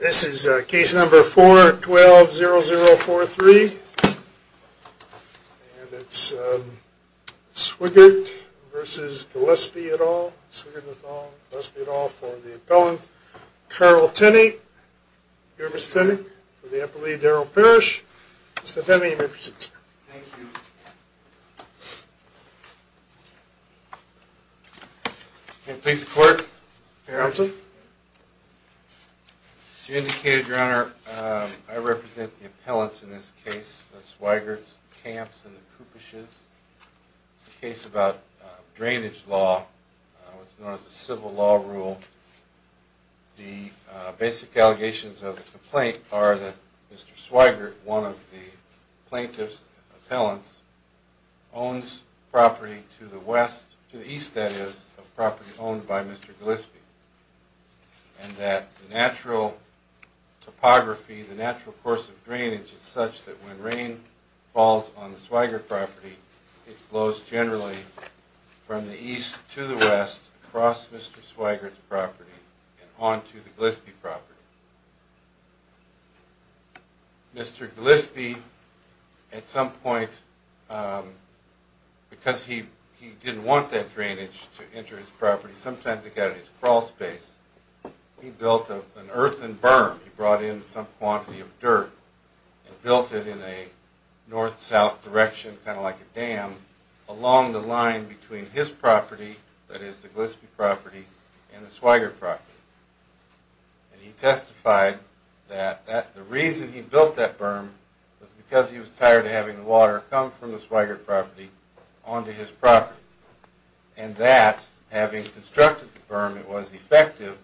This is a case number four twelve zero zero four three It's Swigert vs. Gillespie at all Must be at all for the appellant carl tenny Your miss penny for the upper lead Daryl Parish. It's the penny Please court She indicated your honor I represent the appellants in this case swigerts camps and the cooper shoes the case about drainage law What's known as a civil law rule? the Basic allegations of the complaint are that mr. Swigert one of the plaintiffs appellants Owns property to the west to the east that is of property owned by mr. Gillespie And that natural Topography the natural course of drainage is such that when rain falls on the swigert property it flows generally From the east to the west across mr. Swigert property and on to the Gillespie property Mr.. Gillespie at some point Because he he didn't want that drainage to enter his property sometimes it got his crawl space He built of an earthen berm he brought in some quantity of dirt And built it in a north-south direction kind of like a dam Along the line between his property that is the Gillespie property and the swigert property And he testified that the reason he built that berm was because he was tired of having the water come from the swigert property on to his property and That having constructed the berm it was effective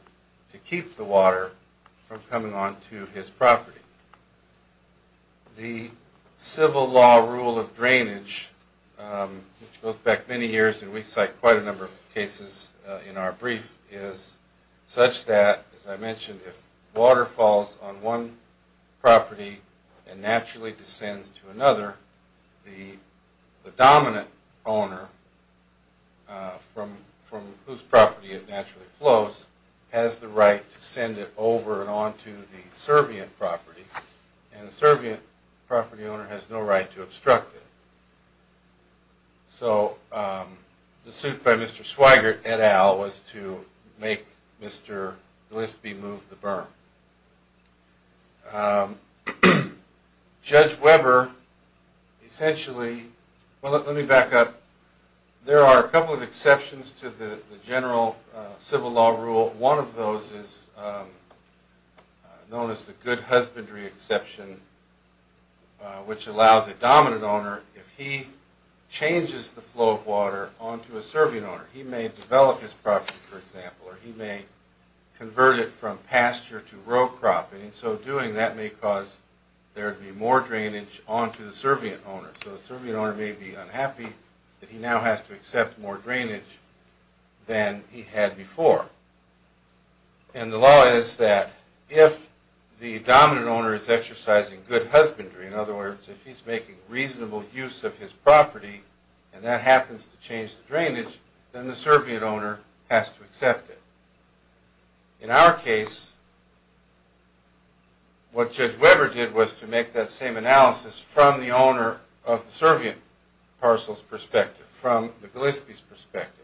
to keep the water from coming on to his property the civil law rule of drainage Which goes back many years, and we cite quite a number of cases in our brief is Such that as I mentioned if water falls on one property and naturally descends to another the dominant owner From from whose property it naturally flows has the right to send it over and on to the Serbian property And the Serbian property owner has no right to obstruct it so The suit by Mr.. Swigert et al was to make mr.. Gillespie move the berm Judge Weber Essentially well let me back up There are a couple of exceptions to the general civil law rule one of those is Known as the good husbandry exception which allows a dominant owner if he Changes the flow of water on to a Serbian owner. He may develop his property for example, or he may Convert it from pasture to row cropping and so doing that may cause There to be more drainage on to the Serbian owner so the Serbian owner may be unhappy that he now has to accept more drainage than he had before and The law is that if the dominant owner is exercising good husbandry in other words if he's making reasonable use of his property And that happens to change the drainage then the Serbian owner has to accept it in our case What Judge Weber did was to make that same analysis from the owner of the Serbian parcels perspective from the Gillespie's perspective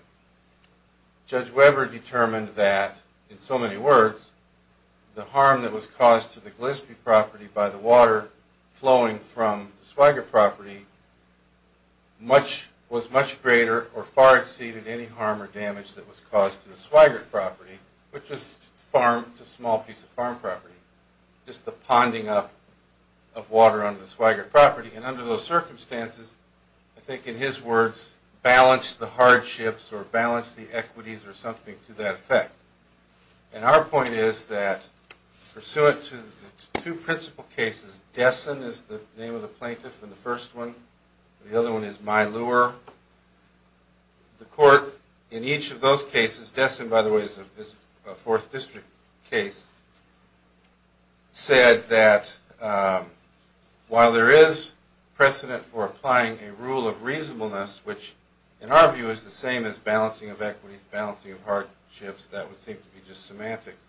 Judge Weber determined that in so many words The harm that was caused to the Gillespie property by the water flowing from Swigert property Much was much greater or far exceeded any harm or damage that was caused to the Swigert property Which was farm it's a small piece of farm property just the ponding up of water under the Swigert property and under those circumstances I think in his words balance the hardships or balance the equities or something to that effect and our point is that Pursuant to two principal cases Dessen is the name of the plaintiff and the first one the other one is my lure The court in each of those cases destined by the ways of this fourth district case Said that While there is Precedent for applying a rule of reasonableness which in our view is the same as balancing of equities balancing of hardships That would seem to be just semantics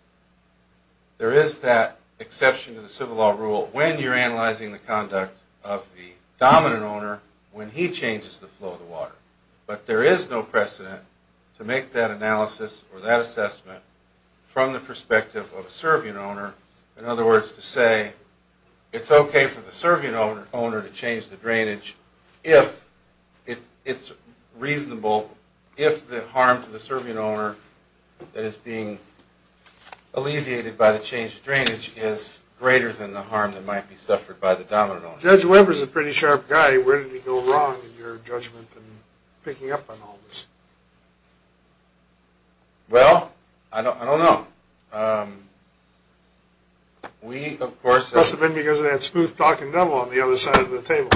There is that exception to the civil law rule when you're analyzing the conduct of the Dominant owner when he changes the flow of the water, but there is no precedent to make that analysis or that assessment from the perspective of a Serbian owner in other words to say It's okay for the Serbian owner to change the drainage if It it's reasonable if the harm to the Serbian owner That is being Alleviated by the change of drainage is greater than the harm that might be suffered by the dominant judge Weber's a pretty sharp guy Where did he go wrong in your judgment and picking up on all this? Well, I don't know We of course must have been because of that smooth talking devil on the other side of the table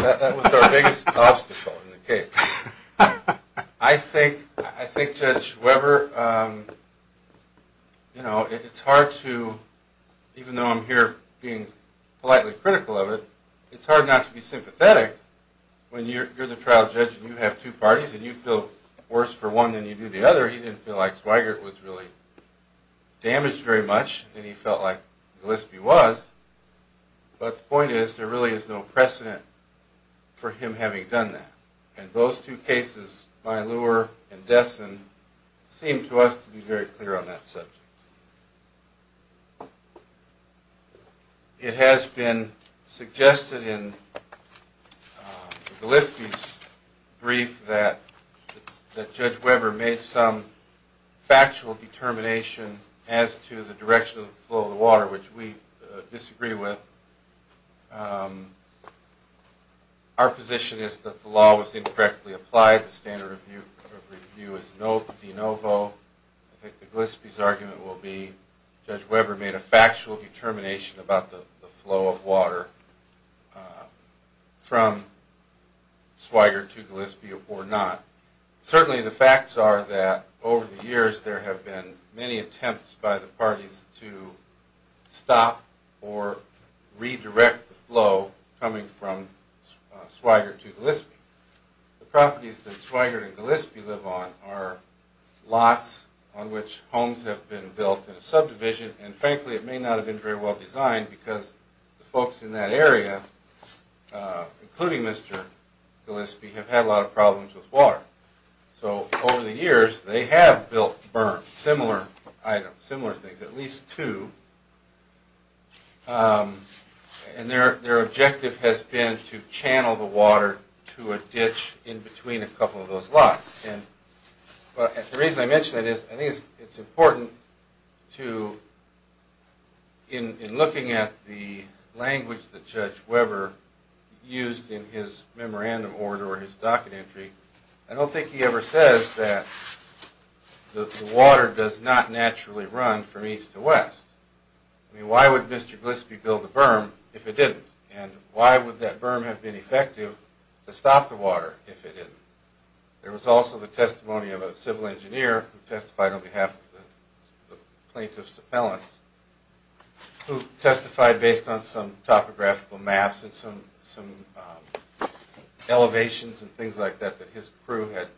I Think I think judge Weber You know it's hard to Even though I'm here being politely critical of it. It's hard not to be sympathetic When you're the trial judge you have two parties, and you feel worse for one than you do the other He didn't feel like swagger. It was really Damaged very much, and he felt like the list be was But the point is there really is no precedent For him having done that and those two cases by lure and desson Seemed to us to be very clear on that subject It has been suggested in The list is brief that that judge Weber made some Factual determination as to the direction of the flow of the water which we disagree with Our position is that the law was incorrectly applied the standard of view of review is no de novo I think the Gillespie's argument will be judge Weber made a factual determination about the flow of water From swagger to Gillespie or not certainly the facts are that over the years there have been many attempts by the parties to stop or Redirect the flow coming from swagger to Gillespie the properties that swagger and Gillespie live on are Lots on which homes have been built in a subdivision and frankly it may not have been very well designed because the folks in that area Including mr. Gillespie have had a lot of problems with water So over the years they have built burn similar item similar things at least two And their their objective has been to channel the water to a ditch in between a couple of those lots and But the reason I mentioned it is I think it's important to in looking at the language that judge Weber Used in his memorandum order or his docket entry. I don't think he ever says that The water does not naturally run from east to west I mean, why would mr. Gillespie build a berm if it didn't and why would that berm have been effective to stop the water if it didn't There was also the testimony of a civil engineer who testified on behalf of the plaintiffs appellants Who testified based on some topographical maps and some some? Elevations and things like that that his crew had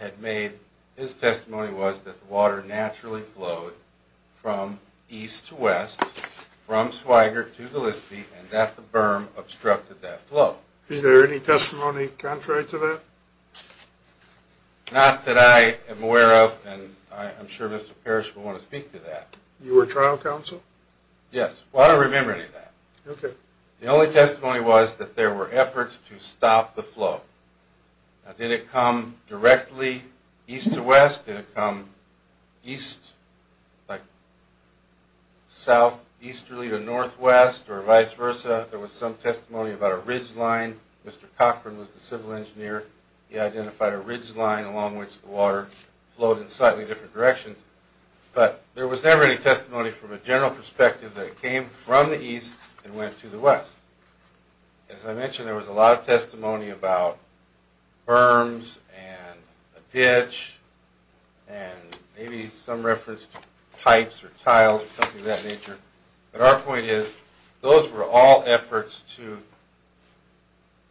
Had made his testimony was that water naturally flowed From east to west from Swigert to Gillespie and that the berm obstructed that flow Is there any testimony contrary to that? Not that I am aware of and I'm sure mr. Parrish will want to speak to that you were trial counsel. Yes. Well, I don't remember any of that Okay, the only testimony was that there were efforts to stop the flow Did it come directly east to west did it come? east like South easterly or northwest or vice versa. There was some testimony about a ridgeline. Mr Cochran was the civil engineer. He identified a ridgeline along which the water flowed in slightly different directions But there was never any testimony from a general perspective that it came from the east and went to the west as I mentioned there was a lot of testimony about berms and a ditch and Maybe some referenced pipes or tiles or something of that nature. But our point is those were all efforts to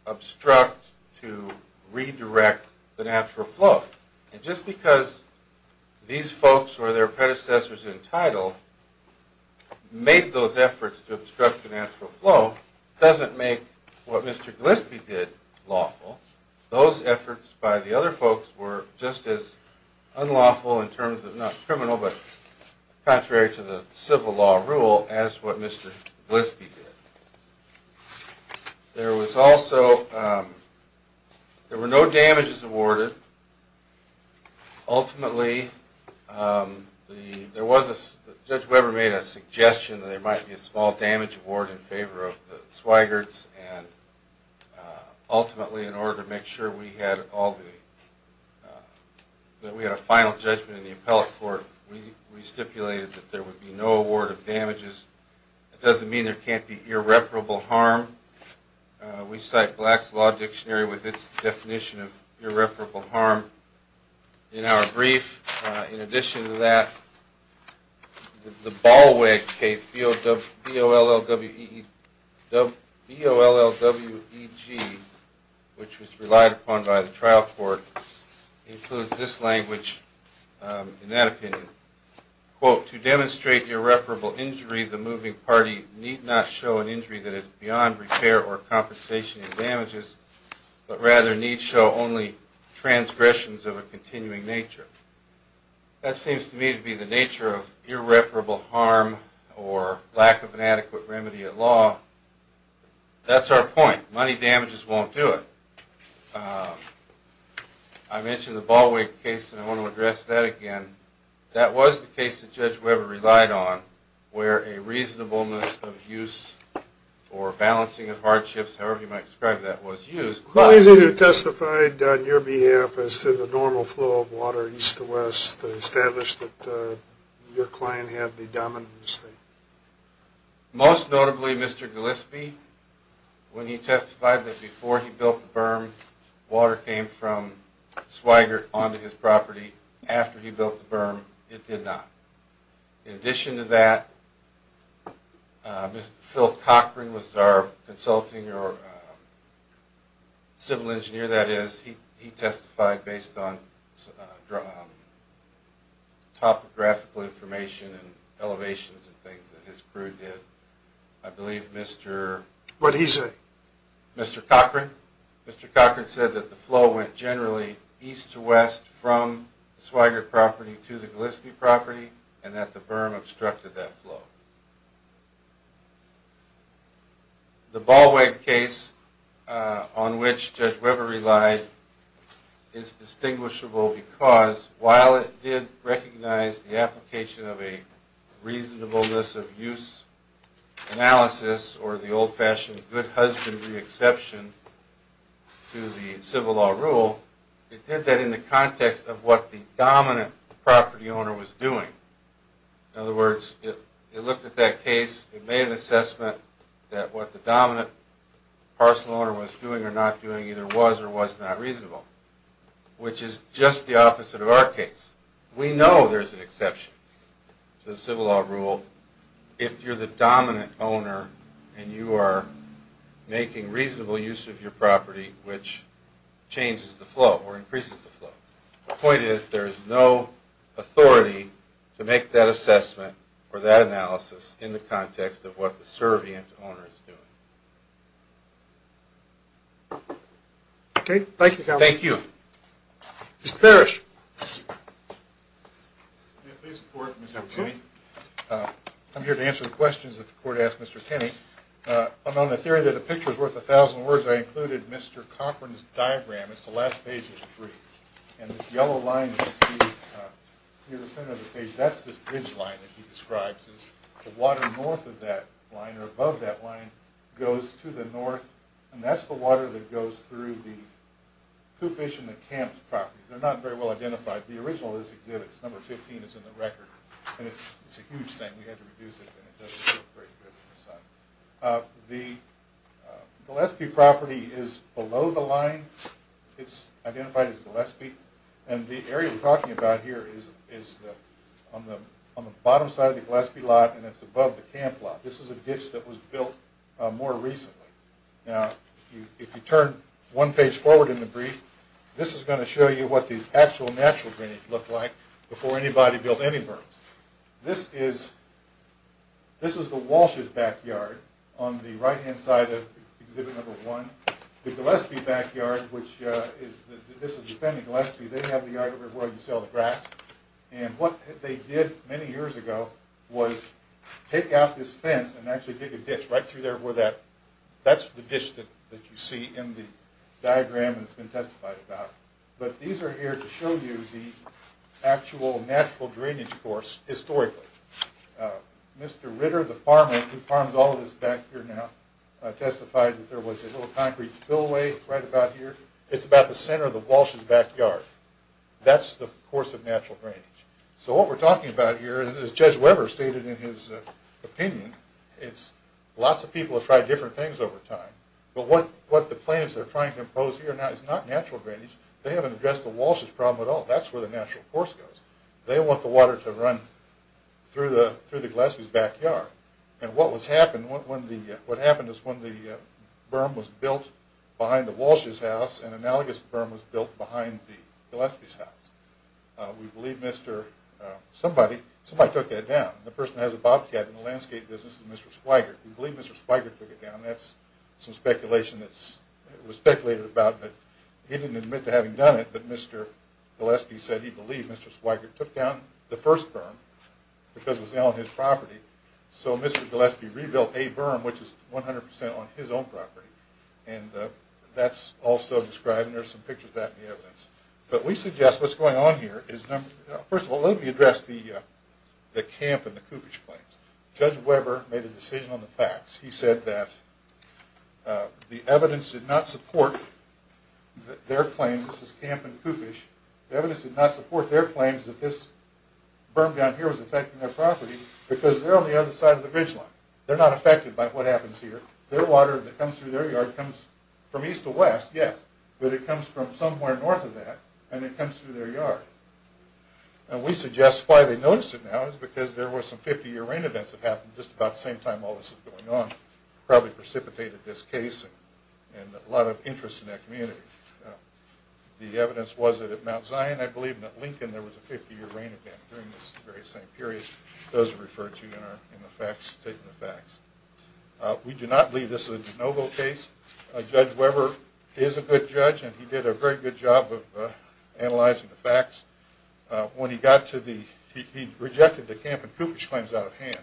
Obstruct to redirect the natural flow and just because These folks or their predecessors in title Made those efforts to obstruct the natural flow doesn't make what mr. Gillespie did lawful those efforts by the other folks were just as Unlawful in terms of not criminal but contrary to the civil law rule as what mr. Gillespie did There was also There were no damages awarded Ultimately the there was a judge Weber made a suggestion that there might be a small damage award in favor of the Swigerts and Ultimately in order to make sure we had all the That we had a final judgment in the appellate court we we stipulated that there would be no award of damages It doesn't mean there can't be irreparable harm We cite blacks law dictionary with its definition of irreparable harm in our brief in addition to that The ball way case field of the OLL W the BOLL W EG Which was relied upon by the trial court? includes this language in that opinion Quote to demonstrate irreparable injury the moving party need not show an injury that is beyond repair or compensation damages, but rather need show only transgressions of a continuing nature That seems to me to be the nature of irreparable harm or lack of an adequate remedy at law That's our point money damages won't do it I Mentioned the ball weight case and I want to address that again that was the case that judge Weber relied on where a reasonableness of use or Balancing of hardships however you might describe that was used Well, he's either testified on your behalf as to the normal flow of water east to west established that Your client had the dominant mistake most notably mr. Gillespie When he testified that before he built the berm water came from Swigert onto his property after he built the berm it did not in addition to that Phil Cochran was our consulting or Civil engineer that is he he testified based on Topographical information and elevations and things that his crew did I believe mr. What he's a Mr.. Cochran, mr. Cochran said that the flow went generally east to west from Swigert property to the Gillespie property and that the berm obstructed that flow The ball weight case on which judge Weber relied is Distinguishable because while it did recognize the application of a reasonableness of use Analysis or the old-fashioned good husbandry exception To the civil law rule it did that in the context of what the dominant property owner was doing In other words it it looked at that case it made an assessment that what the dominant Parcel owner was doing or not doing either was or was not reasonable Which is just the opposite of our case we know there's an exception To the civil law rule if you're the dominant owner, and you are making reasonable use of your property which Changes the flow or increases the flow point is there is no Authority to make that assessment or that analysis in the context of what the servient owner is doing Okay, thank you. Thank you. It's perish I'm here to answer the questions that the court asked mr. Kenny I'm on the theory that a picture is worth a thousand words. I included mr.. Cochran's diagram It's the last page is three and this yellow line That's this bridge line that he describes is the water north of that line or above that line Goes to the north and that's the water that goes through the It's a huge thing The Gillespie property is below the line It's identified as Gillespie And the area we're talking about here is is that on the on the bottom side of the Gillespie lot And it's above the camp lot. This is a ditch that was built more recently now If you turn one page forward in the brief This is going to show you what these actual natural drainage look like before anybody built any burrows this is This is the Walsh's backyard on the right-hand side of exhibit number one the Gillespie backyard Which is this is defending Gillespie? They have the yard over where you sell the grass and what they did many years ago was Take out this fence and actually dig a ditch right through there where that That's the dish that that you see in the diagram has been testified about but these are here to show you the actual natural drainage course historically Mr.. Ritter the farmer who farms all of this back here now Testified that there was a little concrete spillway right about here. It's about the center of the Walsh's backyard That's the course of natural drainage, so what we're talking about here is judge Weber stated in his Opinion it's lots of people have tried different things over time, but what what the plaintiffs are trying to impose here now It's not natural drainage. They haven't addressed the Walsh's problem at all. That's where the natural course goes. They want the water to run Through the through the Gillespie's backyard and what was happened when the what happened is when the Berm was built behind the Walsh's house and analogous berm was built behind the Gillespie's house We believe mr. Somebody somebody took that down the person has a bobcat in the landscape business is mr.. Swigert. We believe mr. Swigert took it down. That's some speculation. That's it was speculated about but he didn't admit to having done it, but mr. Gillespie said he believed mr.. Swigert took down the first berm Because it was on his property so mr.. Gillespie rebuilt a berm which is 100% on his own property and That's also described and there's some pictures back in the evidence But we suggest what's going on here is number first of all let me address the The camp and the coopage claims judge Weber made a decision on the facts. He said that The evidence did not support Their claims this is camp and coopage the evidence did not support their claims that this Berm down here was affecting their property because they're on the other side of the bridge line They're not affected by what happens here their water that comes through their yard comes from east to west yes But it comes from somewhere north of that and it comes through their yard And we suggest why they notice it now is because there were some 50-year rain events that happened just about the same time all This is going on probably precipitated this case and a lot of interest in that community The evidence was that at Mount Zion. I believe in that Lincoln There was a 50-year rain event during this very same period those referred to in our in the facts taking the facts We do not believe this is a de novo case a judge Weber is a good judge, and he did a very good job of analyzing the facts when he got to the he rejected the camp and coopage claims out of hand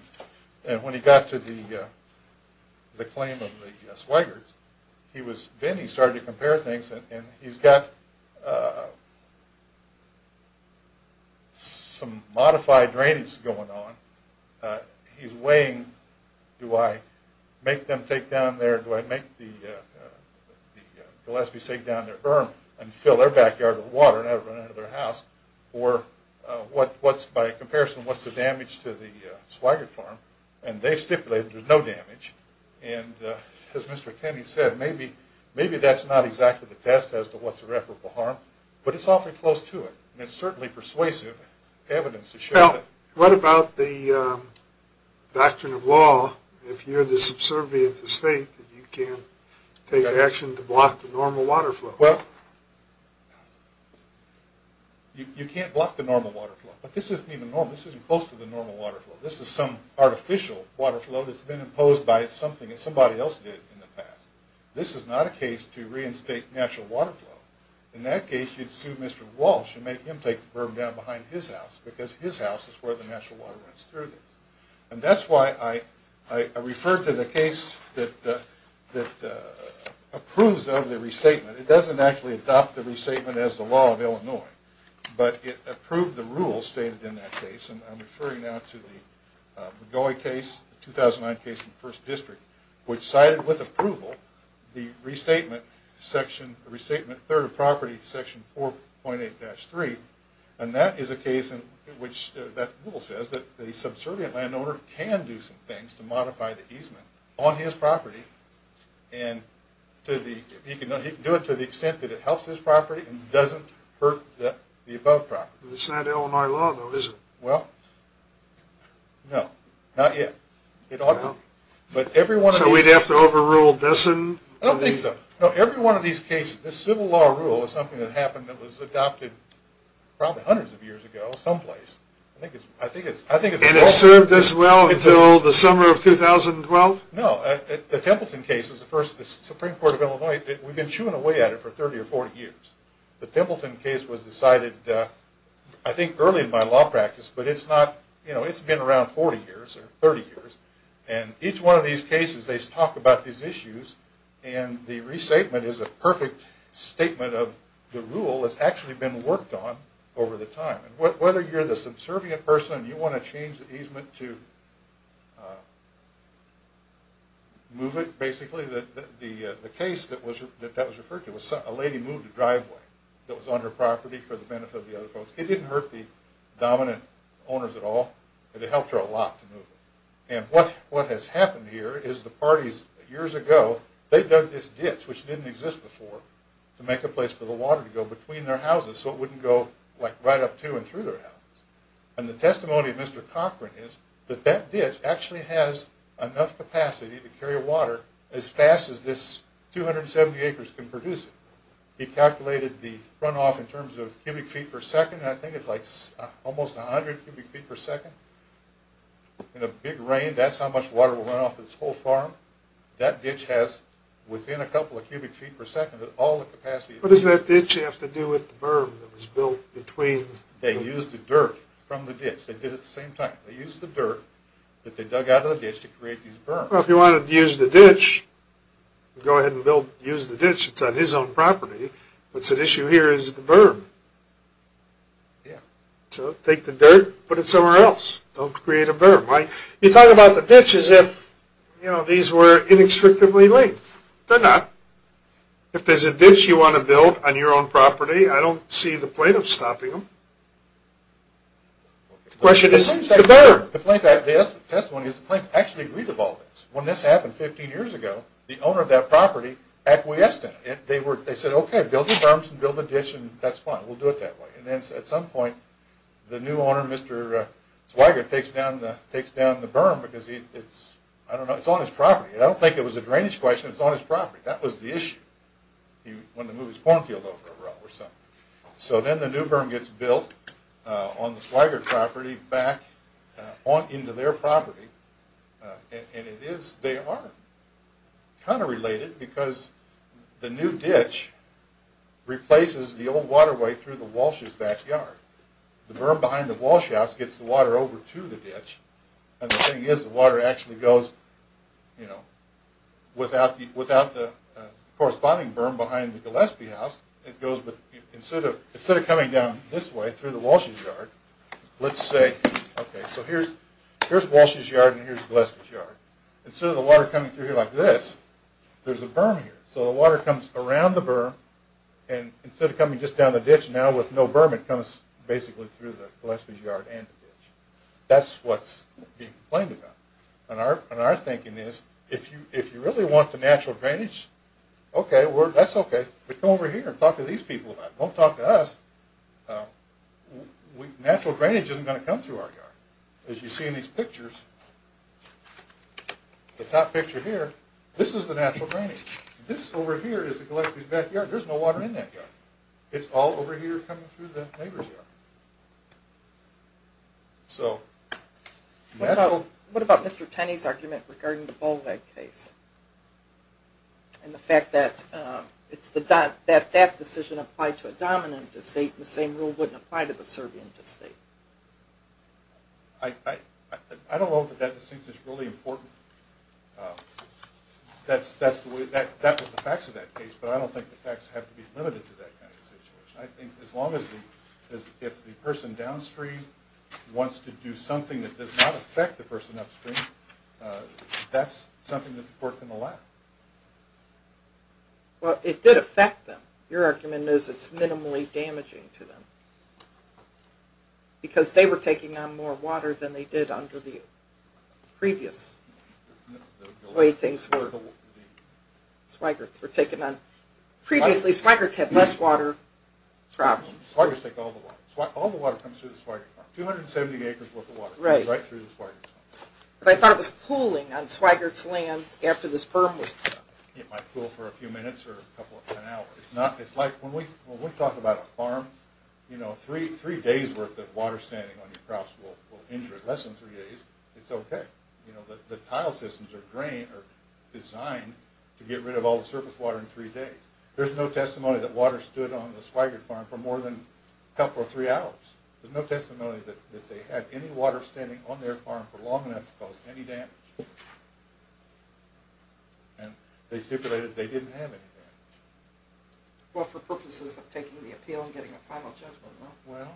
and when he got to the The claim of the swaggered he was then he started to compare things and he's got Some modified drainage going on He's weighing do I make them take down there do I make the Gillespie's take down their berm and fill their backyard with water and I run into their house or What what's by comparison? What's the damage to the swaggered farm, and they've stipulated. There's no damage and As mr. Kenny said maybe maybe that's not exactly the test as to what's irreparable harm, but it's awfully close to it It's certainly persuasive evidence to show what about the Doctrine of law if you're this observant to state that you can take action to block the normal water flow well You can't block the normal water flow, but this isn't even normal this isn't close to the normal water flow This is some artificial water flow that's been imposed by something that somebody else did in the past This is not a case to reinstate natural water flow in that case you'd sue mr. Walsh and make him take the berm down behind his house because his house is where the natural water runs through this and that's why I referred to the case that that Approves of the restatement it doesn't actually adopt the restatement as the law of Illinois But it approved the rule stated in that case and I'm referring now to the going case 2009 case in the first district which cited with approval the restatement section the restatement third of property section 4.8 And that is a case in which that rule says that the subservient landowner can do some things to modify the easement on his property and To the you can do it to the extent that it helps this property and doesn't hurt that the above property It's not Illinois law though is it well No, not yet. It ought to but everyone so we'd have to overrule this and I don't think so Every one of these cases this civil law rule is something that happened that was adopted Probably hundreds of years ago someplace. I think it's I think it's served this well until the summer of 2012 No, the Templeton case is the first the Supreme Court of Illinois that we've been chewing away at it for 30 or 40 years The Templeton case was decided I think early in my law practice But it's not you know it's been around 40 years or 30 years and each one of these cases They talk about these issues and the resatement is a perfect statement of the rule It's actually been worked on over the time and what whether you're the subservient person you want to change the easement to Move it basically that the the case that was that that was referred to was a lady moved a driveway That was on her property for the benefit of the other folks it didn't hurt the dominant owners at all It helped her a lot to move it and what what has happened here is the parties years ago They dug this ditch which didn't exist before to make a place for the water to go between their houses So it wouldn't go like right up to and through their house and the testimony of Mr. Cochran is that that ditch actually has enough capacity to carry water as fast as this 270 acres can produce it he calculated the runoff in terms of cubic feet per second I think it's like almost a hundred cubic feet per second In a big rain, that's how much water will run off this whole farm That ditch has within a couple of cubic feet per second at all the capacity What does that ditch have to do with the berm that was built between they used the dirt from the ditch They did at the same time they used the dirt that they dug out of the ditch to create these berms. Well if you wanted to use the ditch Go ahead and build use the ditch. It's on his own property. What's an issue here is the berm? Yeah, so take the dirt, put it somewhere else. Don't create a berm. You talk about the ditch as if you know These were inextricably linked. They're not If there's a ditch you want to build on your own property, I don't see the plaintiff stopping them The question is the berm. The plaintiff's testimony is the plaintiff actually agreed to all this. When this happened 15 years ago the owner of that property acquiesced in it. They said okay build the berms and build the ditch and that's fine We'll do it that way and then at some point the new owner Mr. Swigert takes down the berm because it's I don't know it's on his property. I don't think it was a drainage question It's on his property. That was the issue He wanted to move his cornfield over a route or something. So then the new berm gets built on the Swigert property back on into their property And it is they are kind of related because the new ditch replaces the old waterway through the Walsh's backyard The berm behind the Walsh house gets the water over to the ditch and the thing is the water actually goes you know without the Corresponding berm behind the Gillespie house. It goes but instead of instead of coming down this way through the Walsh's yard Let's say okay. So here's here's Walsh's yard and here's Gillespie's yard. Instead of the water coming through here like this There's a berm here so the water comes around the berm and Instead of coming just down the ditch now with no berm it comes basically through the Gillespie's yard and the ditch That's what's being complained about and our thinking is if you if you really want the natural drainage Okay, that's okay, but come over here and talk to these people about it. Don't talk to us Natural drainage isn't going to come through our yard as you see in these pictures The top picture here, this is the natural drainage. This over here is the Gillespie's backyard. There's no water in that yard It's all over here coming through the neighbor's yard So What about Mr. Tenney's argument regarding the Bowleg case And the fact that It's the that that that decision applied to a dominant estate and the same rule wouldn't apply to the Serbian estate I Don't know that that distinct is really important That's that's the way that that was the facts of that case, but I don't think the facts have to be limited to that As long as if the person downstream wants to do something that does not affect the person upstream That's something that's important a lot Well it did affect them your argument is it's minimally damaging to them Because they were taking on more water than they did under the previous Way things were Swigerts were taken on previously Swigerts had less water Problems, I would take all the water all the water comes through the Swigerts farm. 270 acres worth of water comes right through the Swigerts farm. But I thought it was pooling on Swigerts land after this berm was put up. It might pool for a few minutes or a couple of hours. It's like when we talk about a farm, you know three three days worth of water standing on your crops will injure it less than three days. It's okay. You know that the tile systems or grain are designed to get rid of all the surface water in three days. There's no testimony that water stood on the Swigerts farm for more than a couple of three hours. There's no testimony that they had any water standing on their farm for long enough to cause any damage. And They stipulated they didn't have any damage. Well for purposes of taking the appeal and getting a final judgment. Well,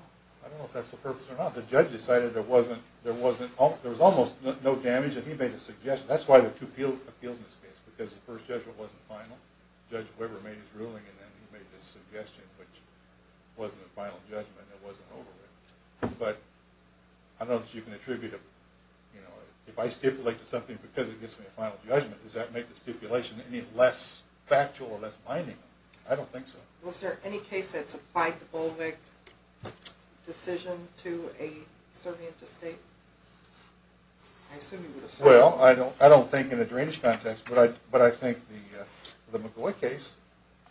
I don't know if that's the purpose or not. The judge decided there wasn't there wasn't there was almost no damage and he made a Suggestion. That's why there are two appeals in this case because the first judgment wasn't final. Judge Weber made his ruling and then he made this suggestion which wasn't a final judgment and it wasn't over with. But I don't know that you can attribute it. You know if I stipulate to something because it gets me a final judgment does that make the stipulation any less factual or less binding? I don't think so. Was there any case that's applied the Bolvik decision to a Serbian estate? Well, I don't I don't think in a drainage context, but I but I think the the McGoy case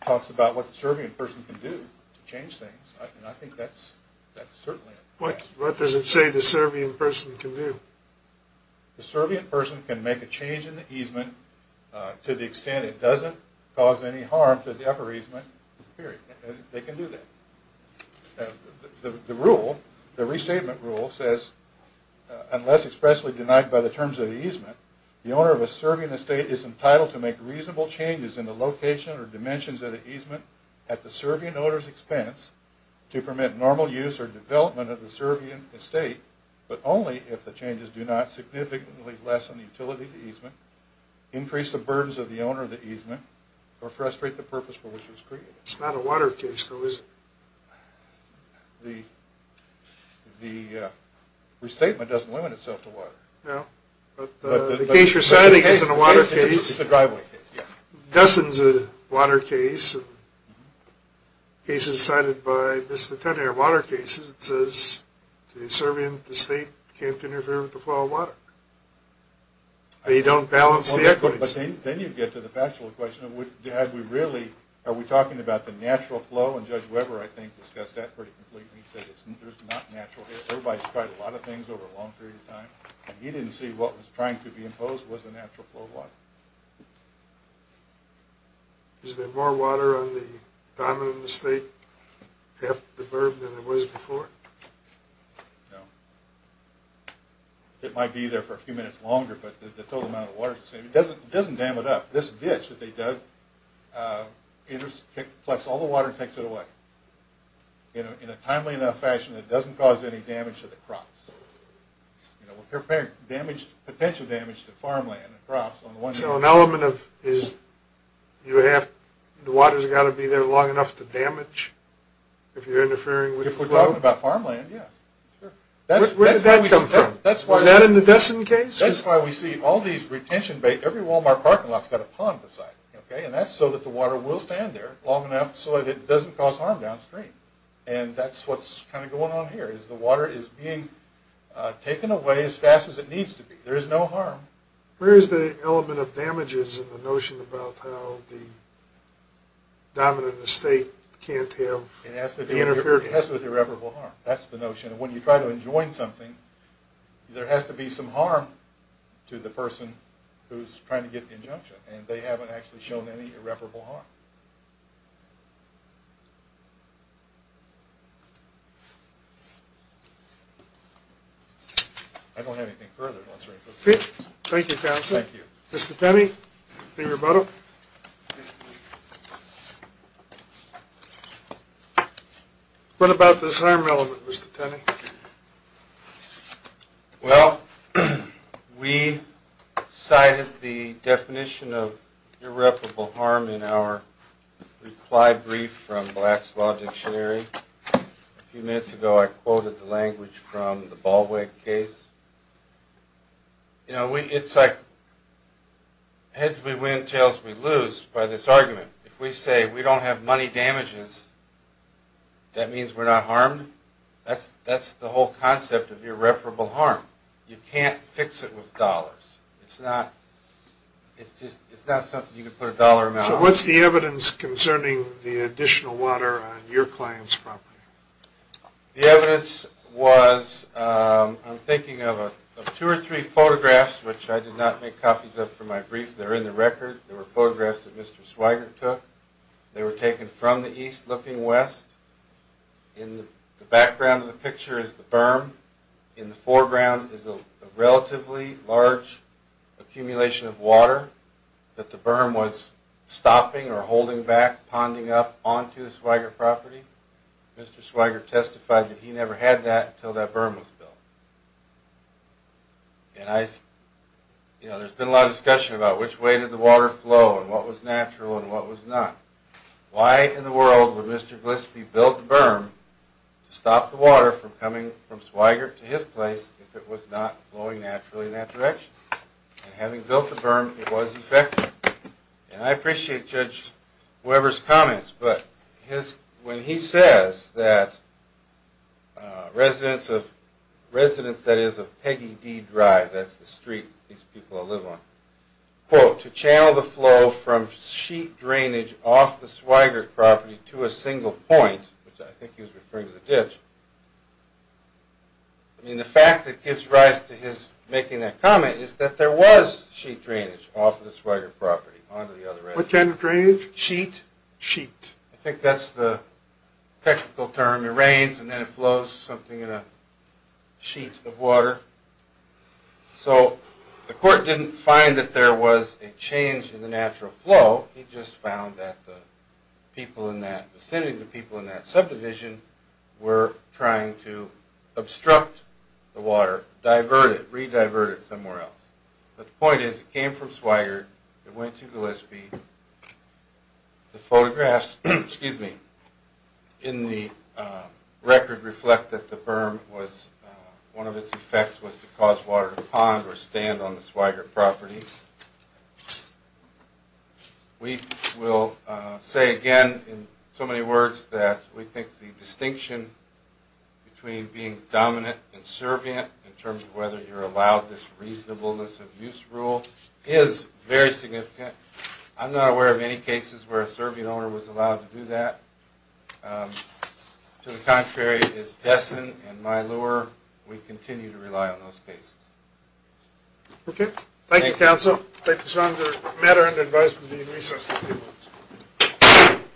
talks about what the Serbian person can do to change things. I think that's What what does it say the Serbian person can do? The Serbian person can make a change in the easement to the extent it doesn't cause any harm to the upper easement period. They can do that. The rule the restatement rule says unless expressly denied by the terms of the easement the owner of a Serbian estate is entitled to make reasonable changes in the location or dimensions of the easement at the Serbian owner's expense to permit normal use or development of the Serbian estate, but only if the changes do not significantly lessen the utility of the easement, increase the burdens of the owner of the easement, or frustrate the purpose for which it was created. It's not a water case though, is it? The the restatement doesn't limit itself to water. No, but the case you're citing isn't a water case. It's a driveway case, yeah. Dustin's a water case. The case is cited by Mr. Tenner, water cases. It says the Serbian estate can't interfere with the flow of water. They don't balance the equities. Then you get to the factual question, would, had we really, are we talking about the natural flow? And Judge Weber, I think, discussed that pretty completely. He said there's not natural here. Everybody's tried a lot of things over a long period of time, and he didn't see what was trying to be imposed was the natural flow of water. Is there more water on the diamond in the state after the berm than there was before? No. It might be there for a few minutes longer, but the total amount of water, it doesn't dam it up. This ditch that they dug, it just collects all the water and takes it away. You know, in a timely enough fashion, it doesn't cause any damage to the crops. You know, we're prepared to damage, potential damage to farmland and crops. So an element of, is you have, the water's got to be there long enough to damage, if you're interfering with the flow. If we're talking about farmland, yes. Where did that come from? Is that in the Dessin case? That's why we see all these retention bays. Every Walmart parking lot's got a pond beside it, okay? And that's so that the water will stand there long enough so that it doesn't cause harm downstream. And that's what's kind of going on here, is the water is being taken away as fast as it needs to be. There is no harm. Where is the element of damages in the notion about how the dominant estate can't have the interference? It has to do with irreparable harm. That's the notion. When you try to enjoin something, there has to be some harm to the person who's trying to get the injunction, and they haven't actually shown any irreparable harm. I don't have anything further. Thank you, Counselor. Thank you. Mr. Tenney, be rebuttal. What about this harm element, Mr. Tenney? Well, we cited the definition of irreparable harm in our reply brief from Black's Law Dictionary. A few minutes ago, I quoted the language from the Baldwin case. You know, it's like win-win-tails-we-lose by this argument. If we say we don't have money damages, that means we're not harmed. That's the whole concept of irreparable harm. You can't fix it with dollars. It's not something you can put a dollar amount on. So what's the evidence concerning the additional water on your client's property? The evidence was, I'm thinking of two or three photographs, which I did not make copies of for my brief. They're in the record. There were photographs that Mr. Swigert took. They were taken from the east looking west. In the background of the picture is the berm. In the foreground is a relatively large accumulation of water that the berm was stopping or holding back, ponding up onto the Swigert property. Mr. Swigert testified that he never had that until that berm was built. And I, you know, there's been a lot of discussion about which way did the water flow and what was natural and what was not. Why in the world would Mr. Glispie built the berm to stop the water from coming from Swigert to his place if it was not flowing naturally in that direction? Having built the berm, it was effective. And I appreciate Judge Weber's comments, but when he says that residents of, residents, that is, of Peggy D Drive, that's the street these people live on, quote, to channel the flow from sheet drainage off the Swigert property to a single point, which I think he was referring to the ditch. I mean, the fact that gives rise to his making that comment is that there was sheet drainage off of the Swigert property onto the other end. What kind of drainage? Sheet. Sheet. I think that's the technical term. It rains and then it flows, something in a sheet of water. So the court didn't find that there was a change in the natural flow. He just found that the people in that vicinity, the people in that subdivision were trying to obstruct the water, divert it, re-divert it somewhere else. But the point is it came from Swigert. It went to Glispie. The photographs, excuse me, in the record reflect that the berm was, one of its effects was to cause water to pond or stand on the Swigert property. We will say again in so many words that we think the distinction between being dominant and servient in terms of whether you're allowed this reasonableness of use rule is very significant. I'm not aware of any cases where a servient owner was allowed to do that. To the contrary is Dessin and Mylure. We continue to rely on those cases. Okay. Thank you, counsel. Thank you, Senator Meder.